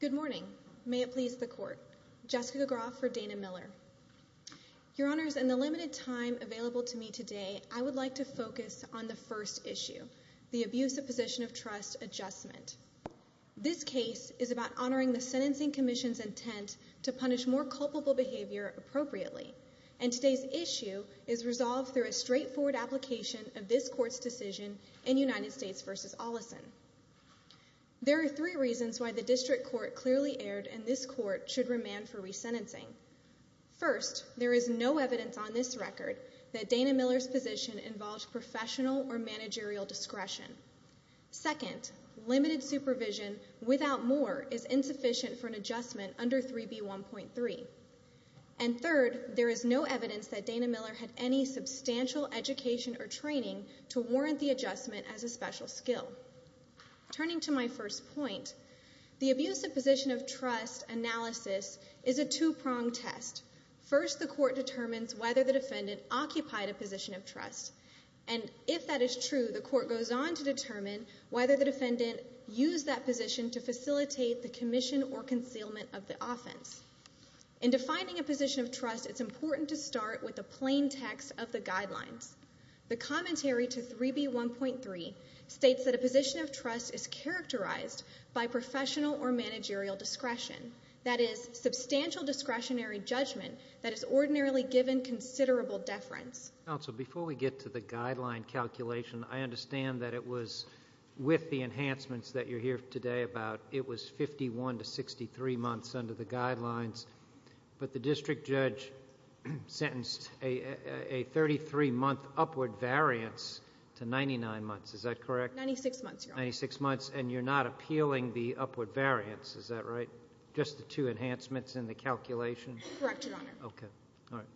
Good morning. May it please the court. Jessica Groff for Dana Miller. Your Honors, in the limited time available to me today, I would like to focus on the first issue, the abuse of position of trust adjustment. This case is about honoring the Sentencing Commission's intent to punish more culpable behavior appropriately, and today's issue is resolved through a straightforward application of this Court's decision in United States v. Olesen. There are three reasons why the District Court clearly erred and this Court should remand for resentencing. First, there is no evidence on this record that Dana Miller's position involved professional or managerial discretion. Second, limited supervision without more is insufficient for an adjustment under 3B1.3. And third, there is no evidence that Dana Miller had any substantial education or training to warrant the adjustment as a special skill. Turning to my first point, the abuse of position of trust analysis is a two-pronged test. First, the Court determines whether the defendant occupied a position of trust, and if that is true, the Court goes on to determine whether the defendant used that position to facilitate the commission or concealment of the offense. In defining a position of trust, it's important to start with a plain text of the guidelines. The commentary to 3B1.3 states that a position of trust is characterized by professional or managerial discretion, that is, substantial discretionary judgment that is ordinarily given considerable deference. Counsel, before we get to the guideline calculation, I understand that it was, with the enhancements that you're here today about, it was 51 to 63 months under the guidelines, but the District Judge sentenced a 33-month upward variance to 99 months. Is that correct? Ninety-six months, Your Honor. Ninety-six months, and you're not appealing the upward variance. Is that right? Just the two enhancements in the calculation? Correct, Your Honor. Okay. All right.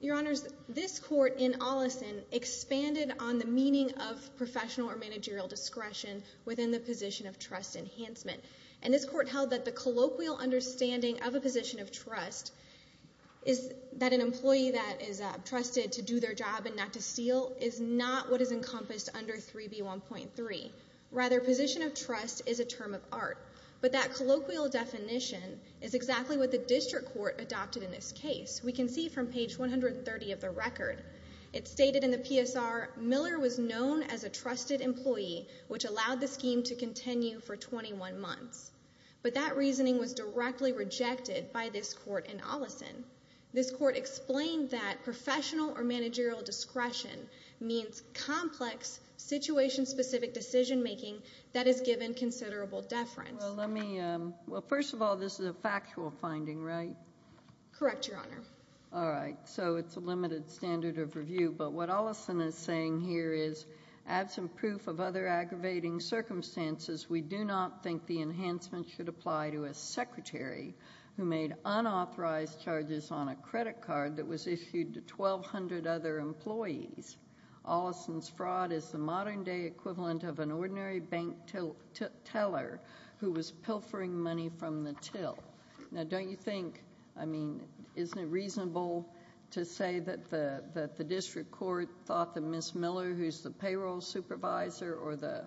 Your Honors, this Court in Ollison expanded on the meaning of professional or managerial discretion within the position of trust enhancement. And this Court held that the colloquial understanding of a position of trust is that an employee that is trusted to do their job and not to steal is not what is encompassed under 3B1.3. Rather, position of trust is a term of art. But that colloquial definition is exactly what the District Court adopted in this case. We can see from page 130 of the record. It's stated in the PSR, Miller was known as a trusted employee, which allowed the scheme to continue for 21 months. But that reasoning was directly rejected by this Court in Ollison. This Court explained that professional or managerial discretion means complex, situation-specific decision-making that is given considerable deference. Well, let me, well, first of all, this is a factual finding, right? Correct, Your Honor. All right. So it's a limited standard of review. But what Ollison is saying here is, absent proof of other aggravating circumstances, we do not think the enhancement should apply to a secretary who made unauthorized charges on a credit card that was issued to 1,200 other employees. Ollison's fraud is the modern-day equivalent of an ordinary bank teller who was pilfering money from the till. Now, don't you think, I mean, isn't it reasonable to say that the District Court thought that Ms. Miller, who's the payroll supervisor or the,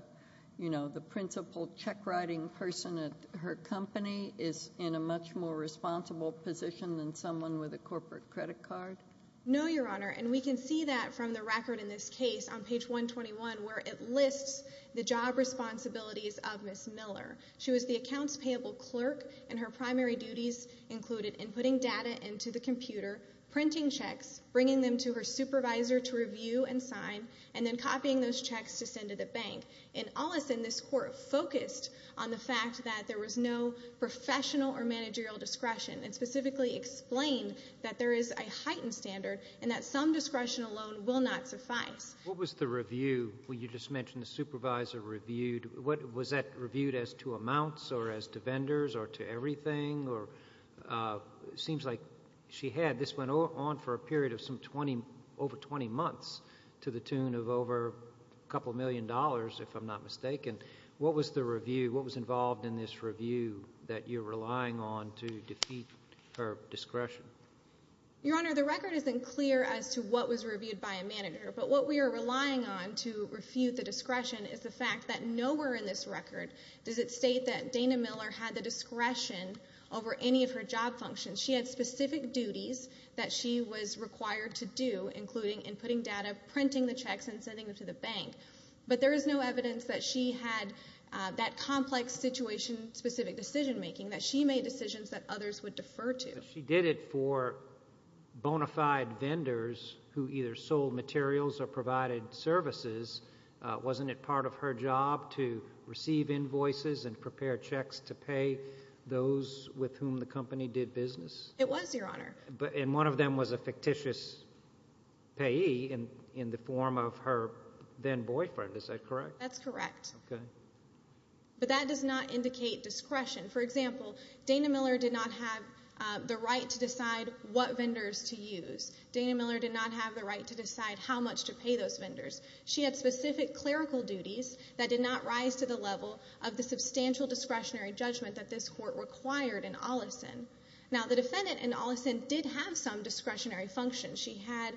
the principal check-writing person at her company, is in a much more responsible position than someone with a corporate credit card? No, Your Honor. And we can see that from the record in this case on page 121, where it lists the job responsibilities of Ms. Miller. She was the accounts payable clerk, and her primary duties included inputting data into the computer, printing checks, bringing them to her supervisor to review and sign, and then copying those checks to send to the bank. And Ollison, this Court, focused on the fact that there was no professional or managerial discretion and specifically explained that there is a heightened standard and that some discretion alone will not suffice. What was the review when you just mentioned the supervisor reviewed? Was that reviewed as to amounts or as to vendors or to everything? It seems like she had, this went on for a to the tune of over a couple million dollars, if I'm not mistaken. What was the review, what was involved in this review that you're relying on to defeat her discretion? Your Honor, the record isn't clear as to what was reviewed by a manager, but what we are relying on to refute the discretion is the fact that nowhere in this record does it state that Dana Miller had the discretion over any of her job functions. She had specific duties that she was required to do, including inputting data, printing the checks, and sending them to the bank. But there is no evidence that she had that complex situation-specific decision making that she made decisions that others would defer to. She did it for bona fide vendors who either sold materials or provided services. Wasn't it part of her job to receive invoices and prepare checks to pay those with whom the company did business? It was, Your Honor. And one of them was a fictitious payee in the form of her then-boyfriend, is that correct? That's correct. Okay. But that does not indicate discretion. For example, Dana Miller did not have the right to decide what vendors to use. Dana Miller did not have the right to decide how much to pay those vendors. She had specific clerical duties that did not rise to the level of the substantial discretionary judgment that this court required in Ollison. Now, the defendant in Ollison did have some discretionary functions. She had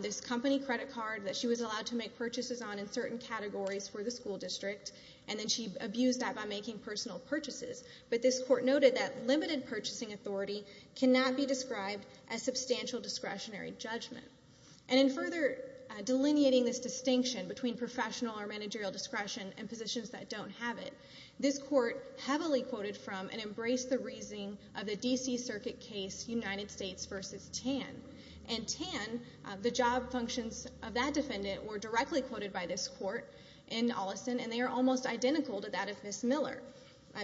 this company credit card that she was allowed to make purchases on in certain categories for the school district, and then she abused that by making personal purchases. But this court noted that limited purchasing authority cannot be described as substantial discretionary judgment. And in further delineating this distinction between professional or managerial discretion and positions that don't have it, this court heavily quoted from and embraced the reasoning of the D.C. Circuit case United States v. Tan. And Tan, the job functions of that defendant were directly quoted by this court in Ollison, and they are almost identical to that of Ms. Miller.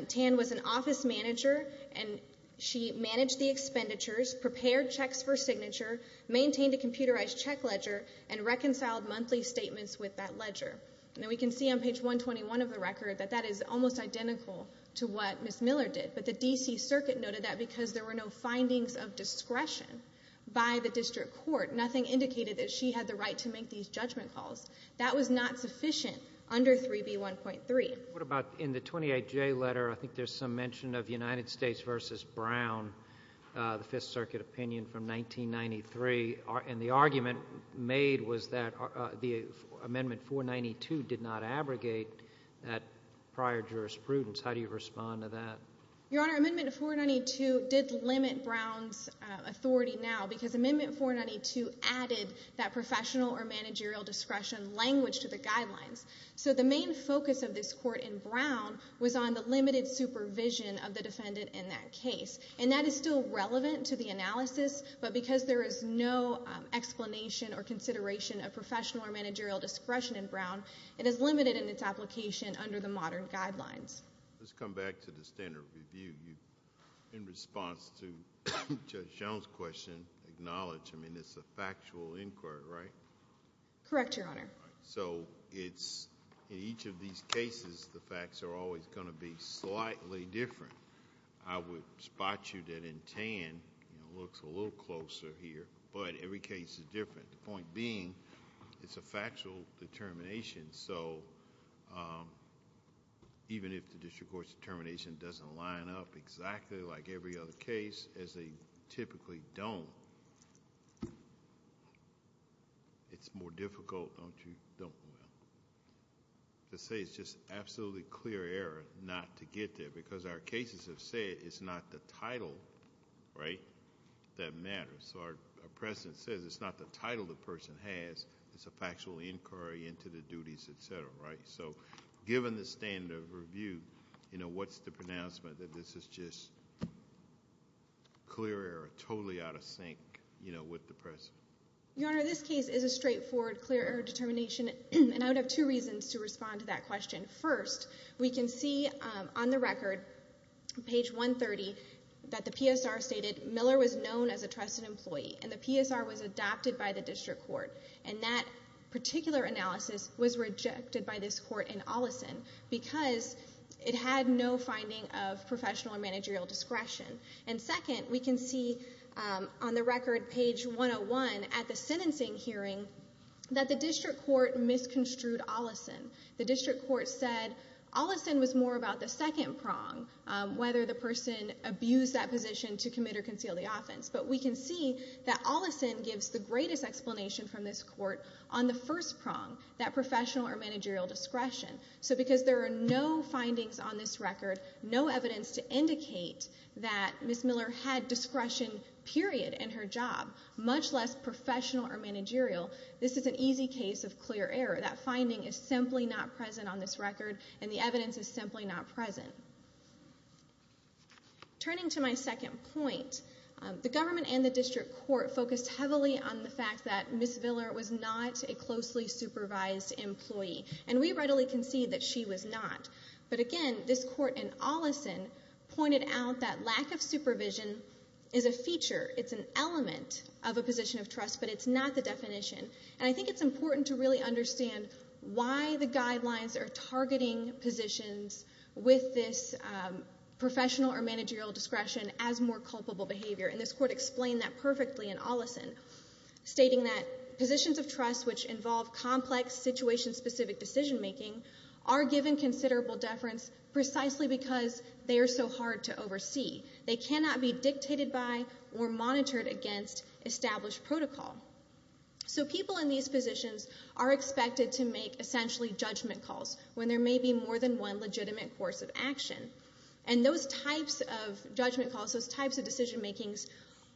Tan was an office manager, and she managed the expenditures, prepared checks for signature, maintained a computerized check ledger, and reconciled monthly statements with that ledger. And we can see on page 121 of the record that that is almost identical to what Ms. Miller did. But the D.C. Circuit noted that because there were no findings of discretion by the district court, nothing indicated that she had the right to make these judgment calls. That was not sufficient under 3B1.3. What about in the 28J letter, I think there's some mention of United States v. Brown, the Fifth Circuit opinion from 1993, and the argument made was that the amendment 492 did not abrogate that prior jurisprudence. How do you respond to that? Your Honor, amendment 492 did limit Brown's authority now because amendment 492 added that professional or managerial discretion language to the guidelines. So the main focus of this court in Brown was on the limited supervision of the defendant in that case. And that is still relevant to the analysis, but because there is no explanation or consideration of professional or managerial discretion in Brown, it is limited in its application under the modern guidelines. Let's come back to the standard review. In response to Judge Jones' question, acknowledge, I mean, it's a factual inquiry, right? Correct, Your Honor. So in each of these cases, the facts are always going to be slightly different. I would spot you that in Tan, it looks a little closer here, but every case is different. The point being, it's a factual determination, so even if the district court's determination doesn't line up exactly like every other case, as they typically don't, it's more difficult to say it's just absolutely clear error not to get there because our cases have said it's not the title, right, that matters. So our precedent says it's not the title the person has, it's a factual inquiry into the duties, et cetera, right? So given the standard review, you know, what's the pronouncement that this is just clear error, totally out of sync, you know, with the precedent? Your Honor, this case is a straightforward clear error determination, and I would have two reasons to respond to that question. First, we can see on the record, page 130, that the PSR stated Miller was known as a trusted employee, and the PSR was adopted by the district court, and that particular analysis was rejected by this court in Ollison because it had no finding of professional or managerial discretion. And second, we can see on the record, page 101, at the sentencing hearing, that the district court misconstrued Ollison. The district court said Ollison was more about the second prong, whether the person abused that position to commit or conceal the offense. But we can see that Ollison gives the greatest explanation from this court on the first prong, that professional or managerial discretion. So because there are no findings on this record, no evidence to indicate that Ms. Miller had discretion, period, in her job, much less professional or managerial, this is an easy case of clear error. That finding is simply not present on this record, and the evidence is simply not present. Turning to my second point, the government and the district court focused heavily on the fact that Ms. Miller was not a closely supervised employee, and we readily concede that she was not. But again, this court in Ollison pointed out that lack of supervision is a feature, it's an element of a position of discretion. And I think it's important to really understand why the guidelines are targeting positions with this professional or managerial discretion as more culpable behavior, and this court explained that perfectly in Ollison, stating that positions of trust which involve complex situation-specific decision-making are given considerable deference precisely because they are so hard to oversee. They cannot be dictated by or monitored against established protocol. So people in these positions are expected to make essentially judgment calls when there may be more than one legitimate course of action, and those types of judgment calls, those types of decision-makings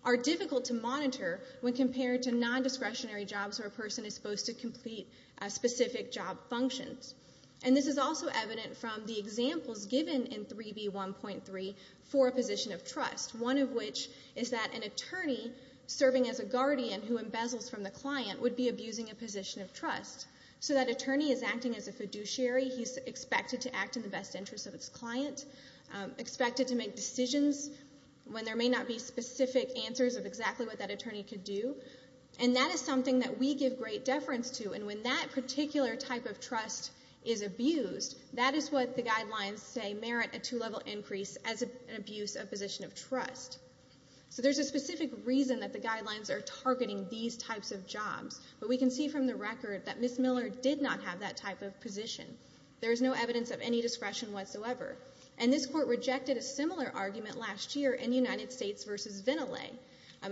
are difficult to monitor when compared to non-discretionary jobs where a person is supposed to complete specific job functions. And this is also evident from the examples given in 3B1.3 for a position of trust, one of which is that an attorney serving as a guardian who embezzles from the client would be abusing a position of trust. So that attorney is acting as a fiduciary, he's expected to act in the best interest of his client, expected to make decisions when there may not be specific answers of exactly what that attorney could do, and that is something that we give great deference to, and when that particular type of trust is abused, that is what the guidelines say a two-level increase as an abuse of position of trust. So there's a specific reason that the guidelines are targeting these types of jobs, but we can see from the record that Ms. Miller did not have that type of position. There is no evidence of any discretion whatsoever. And this court rejected a similar argument last year in United States v. Ventilay.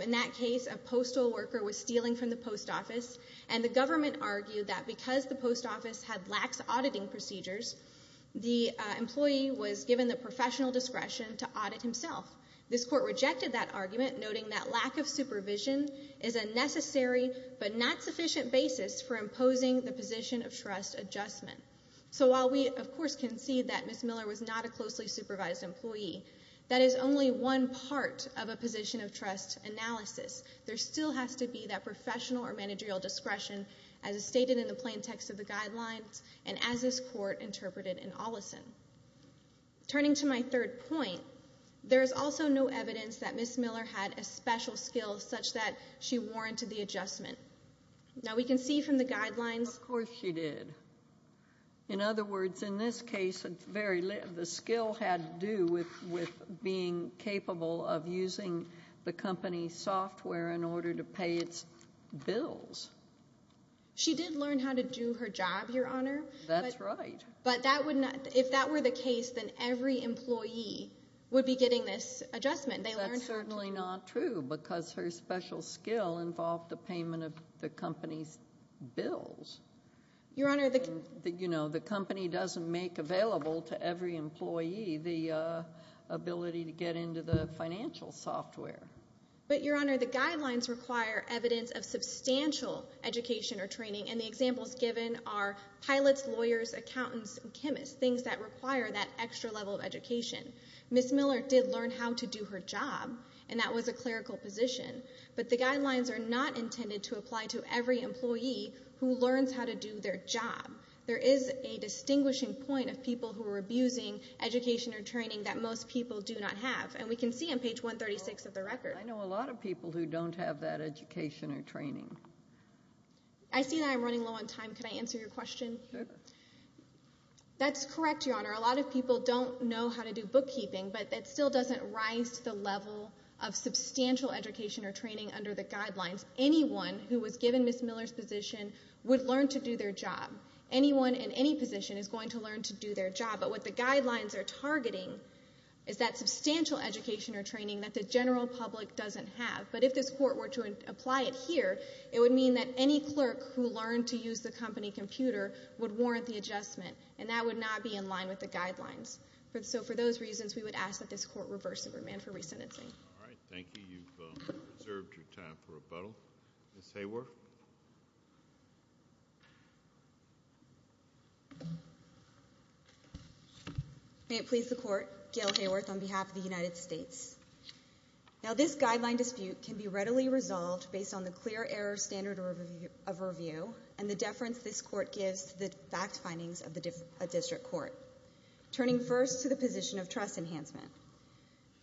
In that case, a postal worker was stealing from the post office, and the government argued that because the post office had lax auditing procedures, the employee was given the professional discretion to audit himself. This court rejected that argument, noting that lack of supervision is a necessary but not sufficient basis for imposing the position of trust adjustment. So while we, of course, concede that Ms. Miller was not a closely supervised employee, that is only one part of a position of trust analysis. There still has to be that professional or discretion that is stated in the plain text of the guidelines and as this court interpreted in Oleson. Turning to my third point, there is also no evidence that Ms. Miller had a special skill such that she warranted the adjustment. Now we can see from the guidelines Of course she did. In other words, in this case, the skill had to do with being capable of using the company's software in order to pay its bills. She did learn how to do her job, Your Honor. That's right. But if that were the case, then every employee would be getting this adjustment. That's certainly not true, because her special skill involved the payment of the company's bills. Your Honor, the company doesn't make available to every employee the ability to get into the financial software. But, Your Honor, the guidelines require evidence of substantial education or training, and the examples given are pilots, lawyers, accountants, and chemists, things that require that extra level of education. Ms. Miller did learn how to do her job, and that was a clerical position. But the guidelines are not intended to apply to every employee who learns how to do their job. There is a distinguishing point of people who are abusing education or training that most people do not have. And we can see on page 136 of the record. I know a lot of people who don't have that education or training. I see that I'm running low on time. Could I answer your question? Sure. That's correct, Your Honor. A lot of people don't know how to do bookkeeping, but that still doesn't rise to the level of substantial education or training under the guidelines. Anyone who was given Ms. Miller's position would learn to do their job. Anyone in any position is going to learn to do their job. But what the guidelines are targeting is that substantial education or training that the general public doesn't have. But if this Court were to apply it here, it would mean that any clerk who learned to use the company computer would warrant the adjustment, and that would not be in line with the guidelines. So for those reasons, we would ask that this Court reverse the remand for resentencing. All right. Thank you. You've reserved your time for rebuttal. Ms. Hayworth? May it please the Court, Gail Hayworth on behalf of the United States. Now, this guideline dispute can be readily resolved based on the clear error standard of review and the deference this Court gives to the fact findings of the district court, turning first to the position of trust enhancement.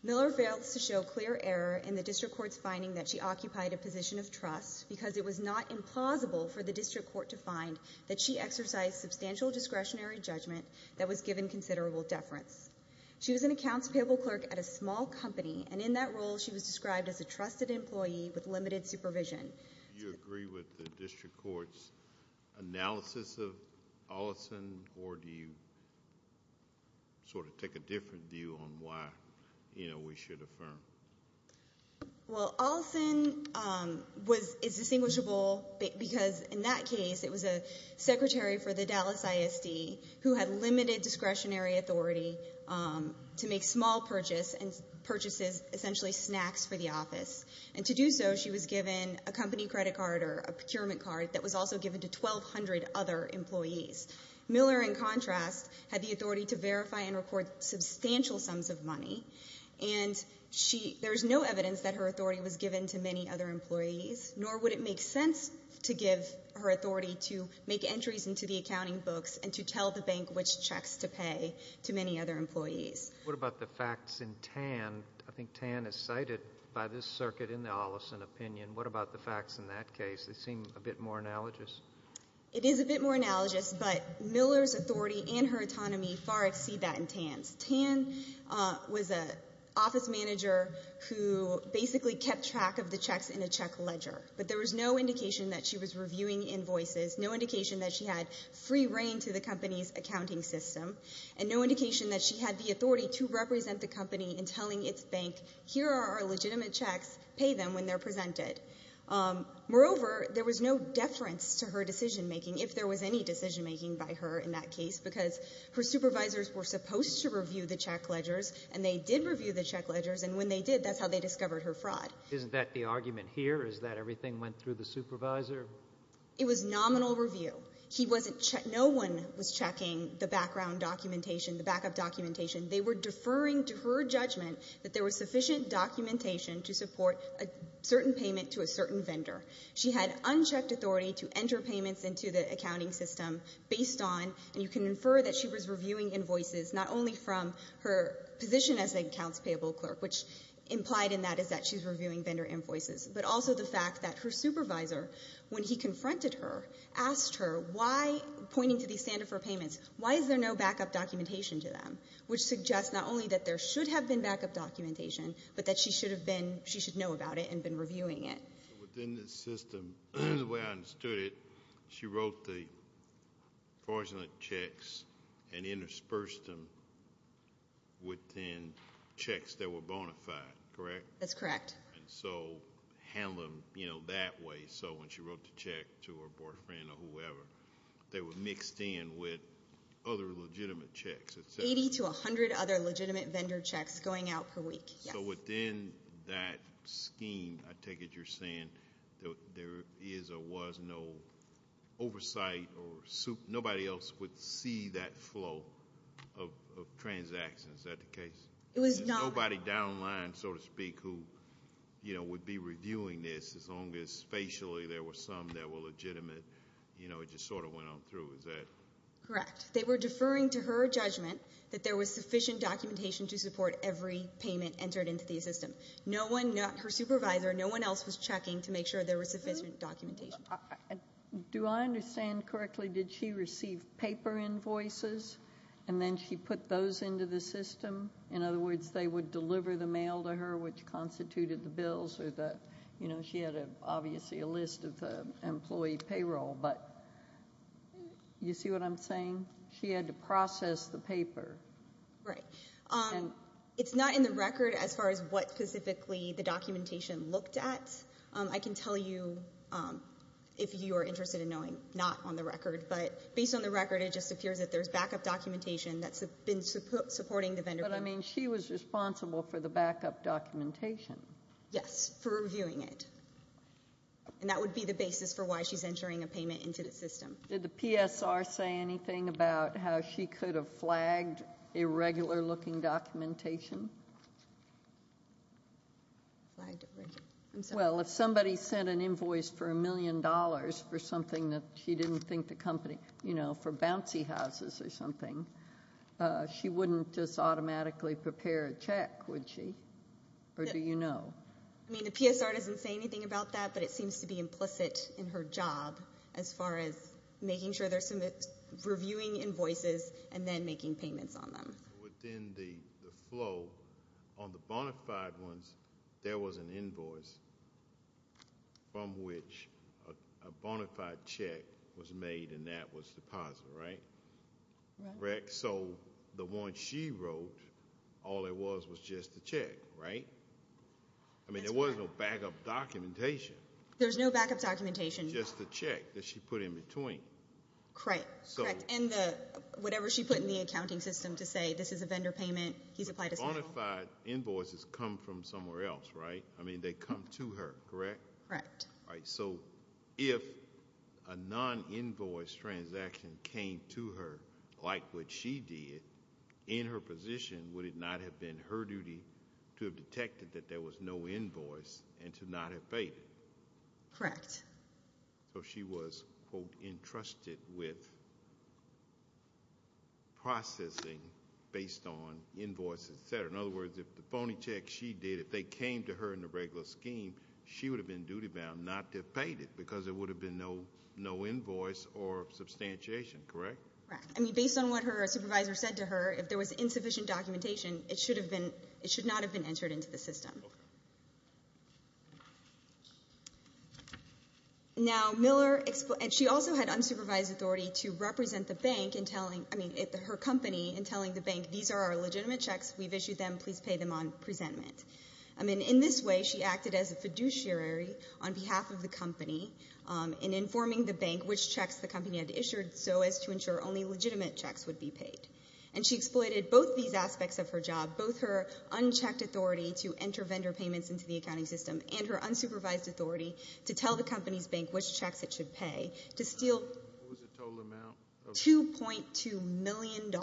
Miller fails to show clear error in the district court's finding that she occupied a position of trust because it was not implausible for the district court to find that she exercised substantial discretionary judgment that was given considerable deference. She was an accounts payable clerk at a small company, and in that role she was described as a trusted employee with limited supervision. Do you agree with the district court's analysis of Olison, or do you sort of take a different view on why we should affirm? Well, Olison is distinguishable because in that case it was a secretary for the Dallas ISD who had limited discretionary authority to make small purchases, and purchases essentially snacks for the office, and to do so she was given a company credit card or a procurement card that was also given to 1,200 other employees. Miller, in contrast, had the authority to verify and report substantial sums of money, and there is no evidence that her authority was given to many other employees, nor would it make sense to give her authority to make entries into the accounting books and to tell the bank which checks to pay to many other employees. What about the facts in Tan? I think Tan is cited by this circuit in the Olison opinion. What about the facts in that case? They seem a bit more analogous. It is a bit more analogous, but Miller's authority and her autonomy far exceed that in Tan's. Tan was an office manager who basically kept track of the checks in a check ledger, but there was no indication that she was reviewing invoices, no indication that she had free reign to the company's accounting system, and no indication that she had the authority to represent the company in telling its bank, here are our legitimate checks, pay them when they're presented. Moreover, there was no deference to her decision making, if there was any decision making by her in that case, because her supervisors were supposed to review the check ledgers, and they did review the check ledgers, and when they did, that's how they discovered her fraud. Isn't that the argument here, is that everything went through the supervisor? It was nominal review. He wasn't checking the background documentation, the backup documentation. They were deferring to her judgment that there was sufficient documentation to support a certain payment to a certain vendor. She had unchecked authority to enter payments into the accounting system based on, and you can infer that she was reviewing invoices, not only from her position as an accounts payable clerk, which implied in that is that she's reviewing vendor invoices, but also the fact that her supervisor, when he confronted her, asked her why, pointing to the stand of her payments, why is there no backup documentation to them, which suggests not only that there should have been backup documentation, but that she should have been, she should know about it and been reviewing it. Within the system, the way I understood it, she wrote the fraudulent checks and interspersed them within checks that were bona fide, correct? That's correct. And so handling them that way, so when she wrote the check to her boyfriend or whoever, they were mixed in with other legitimate checks. 80 to 100 other legitimate vendor checks going out per week, yes. So within that scheme, I take it you're saying there is or was no oversight or nobody else would see that flow of transactions, is that the case? It was not. Nobody down the line, so to speak, who would be reviewing this, as long as facially there were some that were legitimate, you know, it just sort of went on through, is that? Correct. They were deferring to her judgment that there was sufficient documentation to support every payment entered into the system. Her supervisor, no one else was checking to make sure there was sufficient documentation. Do I understand correctly, did she receive paper invoices and then she put those into the system? In other words, they would deliver the mail to her which constituted the bills or the, you know, she had obviously a list of the employee payroll, but you see what I'm saying? She had to process the paper. Right. It's not in the record as far as what specifically the documentation looked at. I can tell you if you are interested in knowing, not on the record, but based on the record it just appears that there's backup documentation that's been supporting the vendor. But, I mean, she was responsible for the backup documentation. Yes, for reviewing it, and that would be the basis for why she's entering a payment into the system. Did the PSR say anything about how she could have flagged irregular looking documentation? Well, if somebody sent an invoice for a million dollars for something that she didn't think the company, you know, for bouncy houses or something, she wouldn't just automatically prepare a check, would she? Or do you know? I mean, the PSR doesn't say anything about that, but it seems to be implicit in her job as far as making sure they're reviewing invoices and then making payments on them. Within the flow, on the bona fide ones, there was an invoice from which a bona fide check was made, and that was deposit, right? Right. So the one she wrote, all it was was just a check, right? I mean, there was no backup documentation. There's no backup documentation. Just the check that she put in between. Correct, correct. And whatever she put in the accounting system to say this is a vendor payment, he's applied to sell. The bona fide invoices come from somewhere else, right? I mean, they come to her, correct? Correct. All right, so if a non-invoice transaction came to her like what she did, in her position would it not have been her duty to have detected that there was no invoice and to not have paid it? Correct. So she was, quote, entrusted with processing based on invoice, et cetera. In other words, if the phony check she did, if they came to her in the regular scheme, she would have been duty-bound not to have paid it because there would have been no invoice or substantiation, correct? Correct. I mean, based on what her supervisor said to her, if there was insufficient documentation, it should not have been entered into the system. Now Miller, she also had unsupervised authority to represent the bank in telling, I mean, her company in telling the bank, these are our legitimate checks. We've issued them. Please pay them on presentment. I mean, in this way she acted as a fiduciary on behalf of the company in informing the bank which checks the company had issued so as to ensure only legitimate checks would be paid. And she exploited both these aspects of her job, both her unchecked authority to enter vendor payments into the accounting system and her unsupervised authority to tell the company's bank which checks it should pay to steal $2.2 million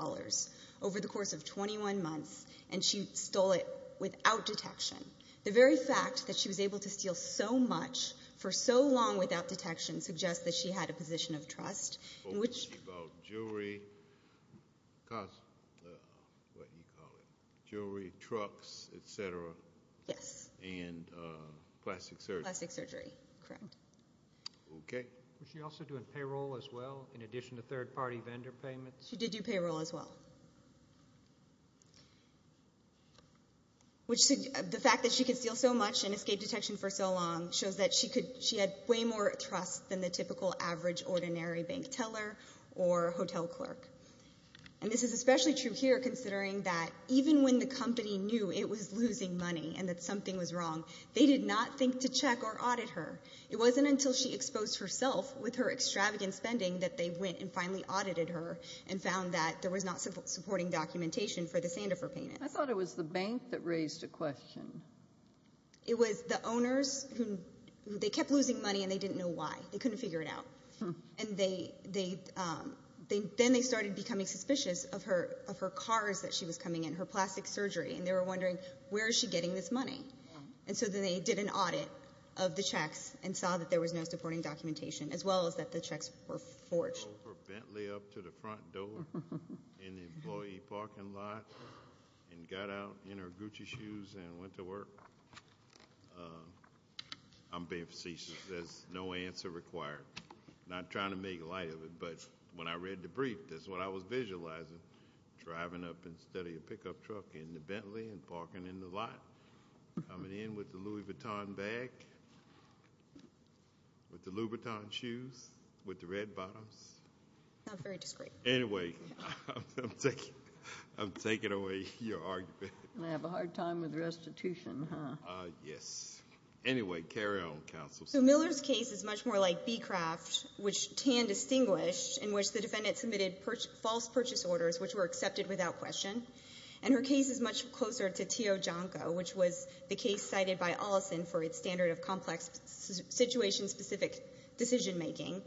over the course of 21 months, and she stole it without detection. The very fact that she was able to steal so much for so long without detection suggests that she had a position of trust. About jewelry, what do you call it? Jewelry, trucks, et cetera. Yes. And plastic surgery. Plastic surgery, correct. Okay. Was she also doing payroll as well in addition to third-party vendor payments? She did do payroll as well. Which the fact that she could steal so much and escape detection for so long shows that she had way more trust than the typical average ordinary bank teller or hotel clerk. And this is especially true here considering that even when the company knew it was losing money and that something was wrong, they did not think to check or audit her. It wasn't until she exposed herself with her extravagant spending that they went and finally audited her and found that there was not supporting documentation for the Sandifer payment. I thought it was the bank that raised the question. It was the owners. They kept losing money and they didn't know why. They couldn't figure it out. And then they started becoming suspicious of her cars that she was coming in, her plastic surgery, and they were wondering where is she getting this money. And so then they did an audit of the checks and saw that there was no supporting documentation as well as that the checks were forged. Went over Bentley up to the front door in the employee parking lot and got out in her Gucci shoes and went to work. I'm being facetious. There's no answer required. Not trying to make light of it, but when I read the brief, that's what I was visualizing, driving up instead of your pickup truck into Bentley and parking in the lot, coming in with the Louis Vuitton bag, with the Louboutin shoes, with the red bottoms. Very discreet. Anyway, I'm taking away your argument. They have a hard time with restitution, huh? Yes. Anyway, carry on, counsel. So Miller's case is much more like Beecraft, which Tan distinguished, in which the defendant submitted false purchase orders which were accepted without question. And her case is much closer to Tio Jonko, which was the case cited by Olison for its standard of complex situation-specific decision-making,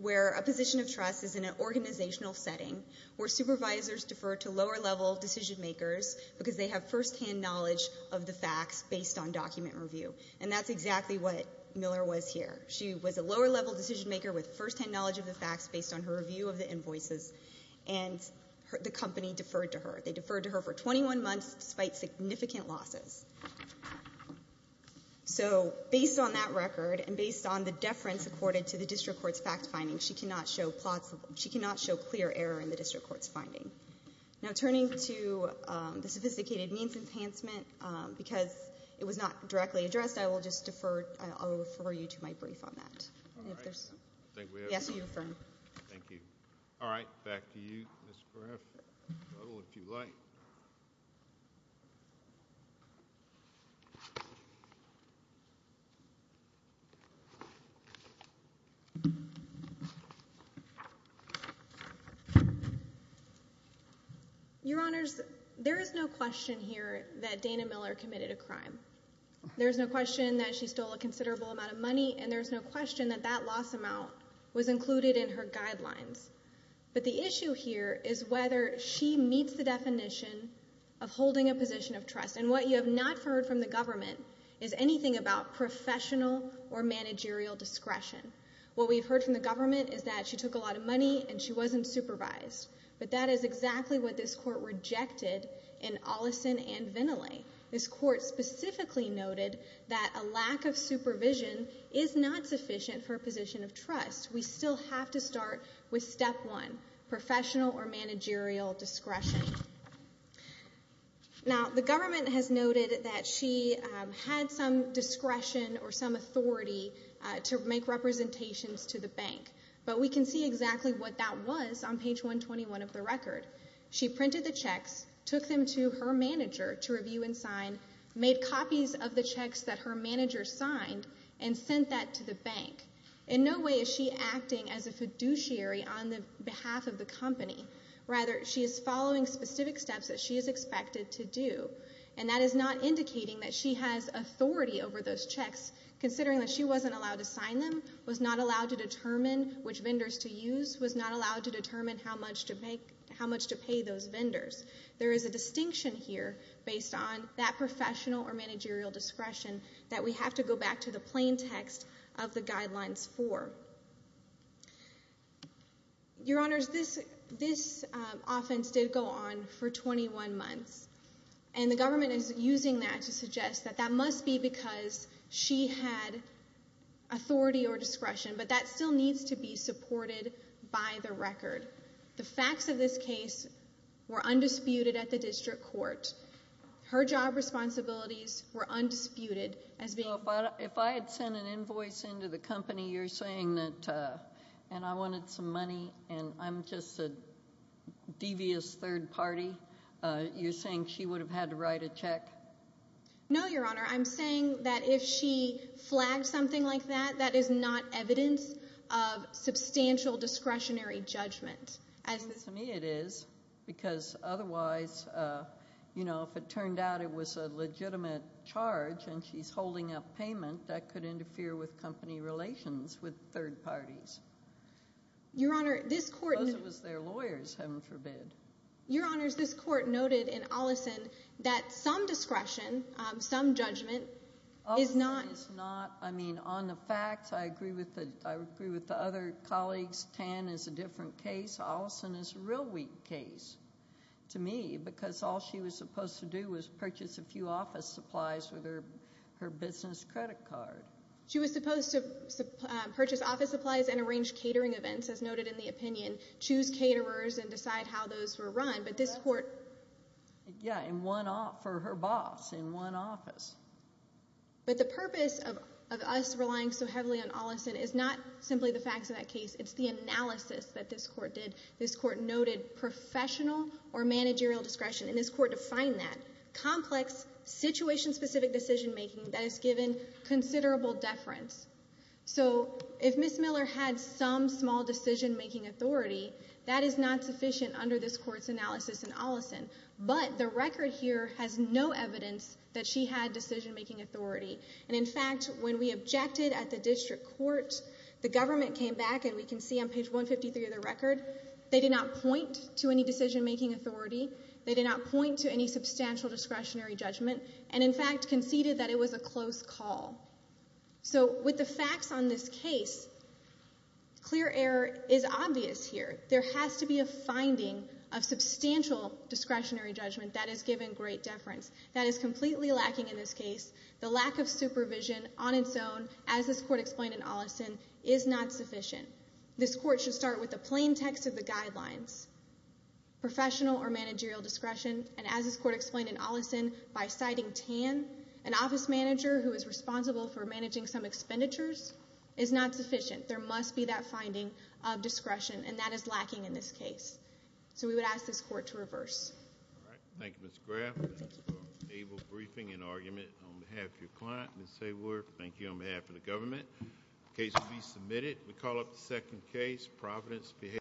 where a position of trust is in an organizational setting where supervisors defer to lower-level decision-makers because they have firsthand knowledge of the facts based on document review. And that's exactly what Miller was here. She was a lower-level decision-maker with firsthand knowledge of the facts based on her review of the invoices and the company deferred to her. They deferred to her for 21 months despite significant losses. So based on that record and based on the deference accorded to the district court's fact-finding, she cannot show clear error in the district court's finding. Now, turning to the sophisticated means enhancement, because it was not directly addressed, I will refer you to my brief on that. All right. I think we have. Yes, you're referring. Thank you. All right. Back to you, Ms. Griff. If you like. Your Honors, there is no question here that Dana Miller committed a crime. There is no question that she stole a considerable amount of money, and there is no question that that loss amount was included in her guidelines. But the issue here is whether she meets the definition of holding a position of trust. And what you have not heard from the government is anything about professional or managerial discretion. What we've heard from the government is that she took a lot of money and she wasn't supervised. But that is exactly what this court rejected in Ollison and Veneley. This court specifically noted that a lack of supervision is not sufficient for a position of trust. We still have to start with step one, professional or managerial discretion. Now, the government has noted that she had some discretion or some authority to make representations to the bank. But we can see exactly what that was on page 121 of the record. She printed the checks, took them to her manager to review and sign, made copies of the checks that her manager signed, and sent that to the bank. In no way is she acting as a fiduciary on behalf of the company. Rather, she is following specific steps that she is expected to do. And that is not indicating that she has authority over those checks, considering that she wasn't allowed to sign them, was not allowed to determine which vendors to use, was not allowed to determine how much to pay those vendors. There is a distinction here based on that professional or managerial discretion that we have to go back to the plain text of the Guidelines 4. Your Honors, this offense did go on for 21 months, and the government is using that to suggest that that must be because she had authority or discretion. But that still needs to be supported by the record. The facts of this case were undisputed at the district court. Her job responsibilities were undisputed. So if I had sent an invoice into the company, you're saying that I wanted some money and I'm just a devious third party, you're saying she would have had to write a check? No, Your Honor. I'm saying that if she flagged something like that, that is not evidence of substantial discretionary judgment. To me it is, because otherwise, you know, if it turned out it was a legitimate charge and she's holding up payment, that could interfere with company relations with third parties. Your Honor, this court— Because it was their lawyers, heaven forbid. Your Honors, this court noted in Ollison that some discretion, some judgment is not— Ollison is not. I mean, on the facts, I agree with the other colleagues. Tan is a different case. Ollison is a real weak case to me, because all she was supposed to do was purchase a few office supplies with her business credit card. She was supposed to purchase office supplies and arrange catering events, as noted in the opinion, and choose caterers and decide how those were run. But this court— Yeah, for her boss in one office. But the purpose of us relying so heavily on Ollison is not simply the facts of that case. It's the analysis that this court did. This court noted professional or managerial discretion, and this court defined that. Complex, situation-specific decision-making that has given considerable deference. So if Ms. Miller had some small decision-making authority, that is not sufficient under this court's analysis in Ollison. But the record here has no evidence that she had decision-making authority. And, in fact, when we objected at the district court, the government came back, and we can see on page 153 of the record, they did not point to any decision-making authority. They did not point to any substantial discretionary judgment, and, in fact, conceded that it was a close call. So with the facts on this case, clear error is obvious here. There has to be a finding of substantial discretionary judgment that has given great deference. That is completely lacking in this case. The lack of supervision on its own, as this court explained in Ollison, is not sufficient. This court should start with the plain text of the guidelines, professional or managerial discretion, and, as this court explained in Ollison, by citing TAN, an office manager who is responsible for managing some expenditures, is not sufficient. There must be that finding of discretion, and that is lacking in this case. So we would ask this court to reverse. All right. Thank you, Ms. Graff. That's our able briefing and argument on behalf of your client, Ms. Sayward. Thank you on behalf of the government. The case will be submitted. We call up the second case, Providence Behavioral Health.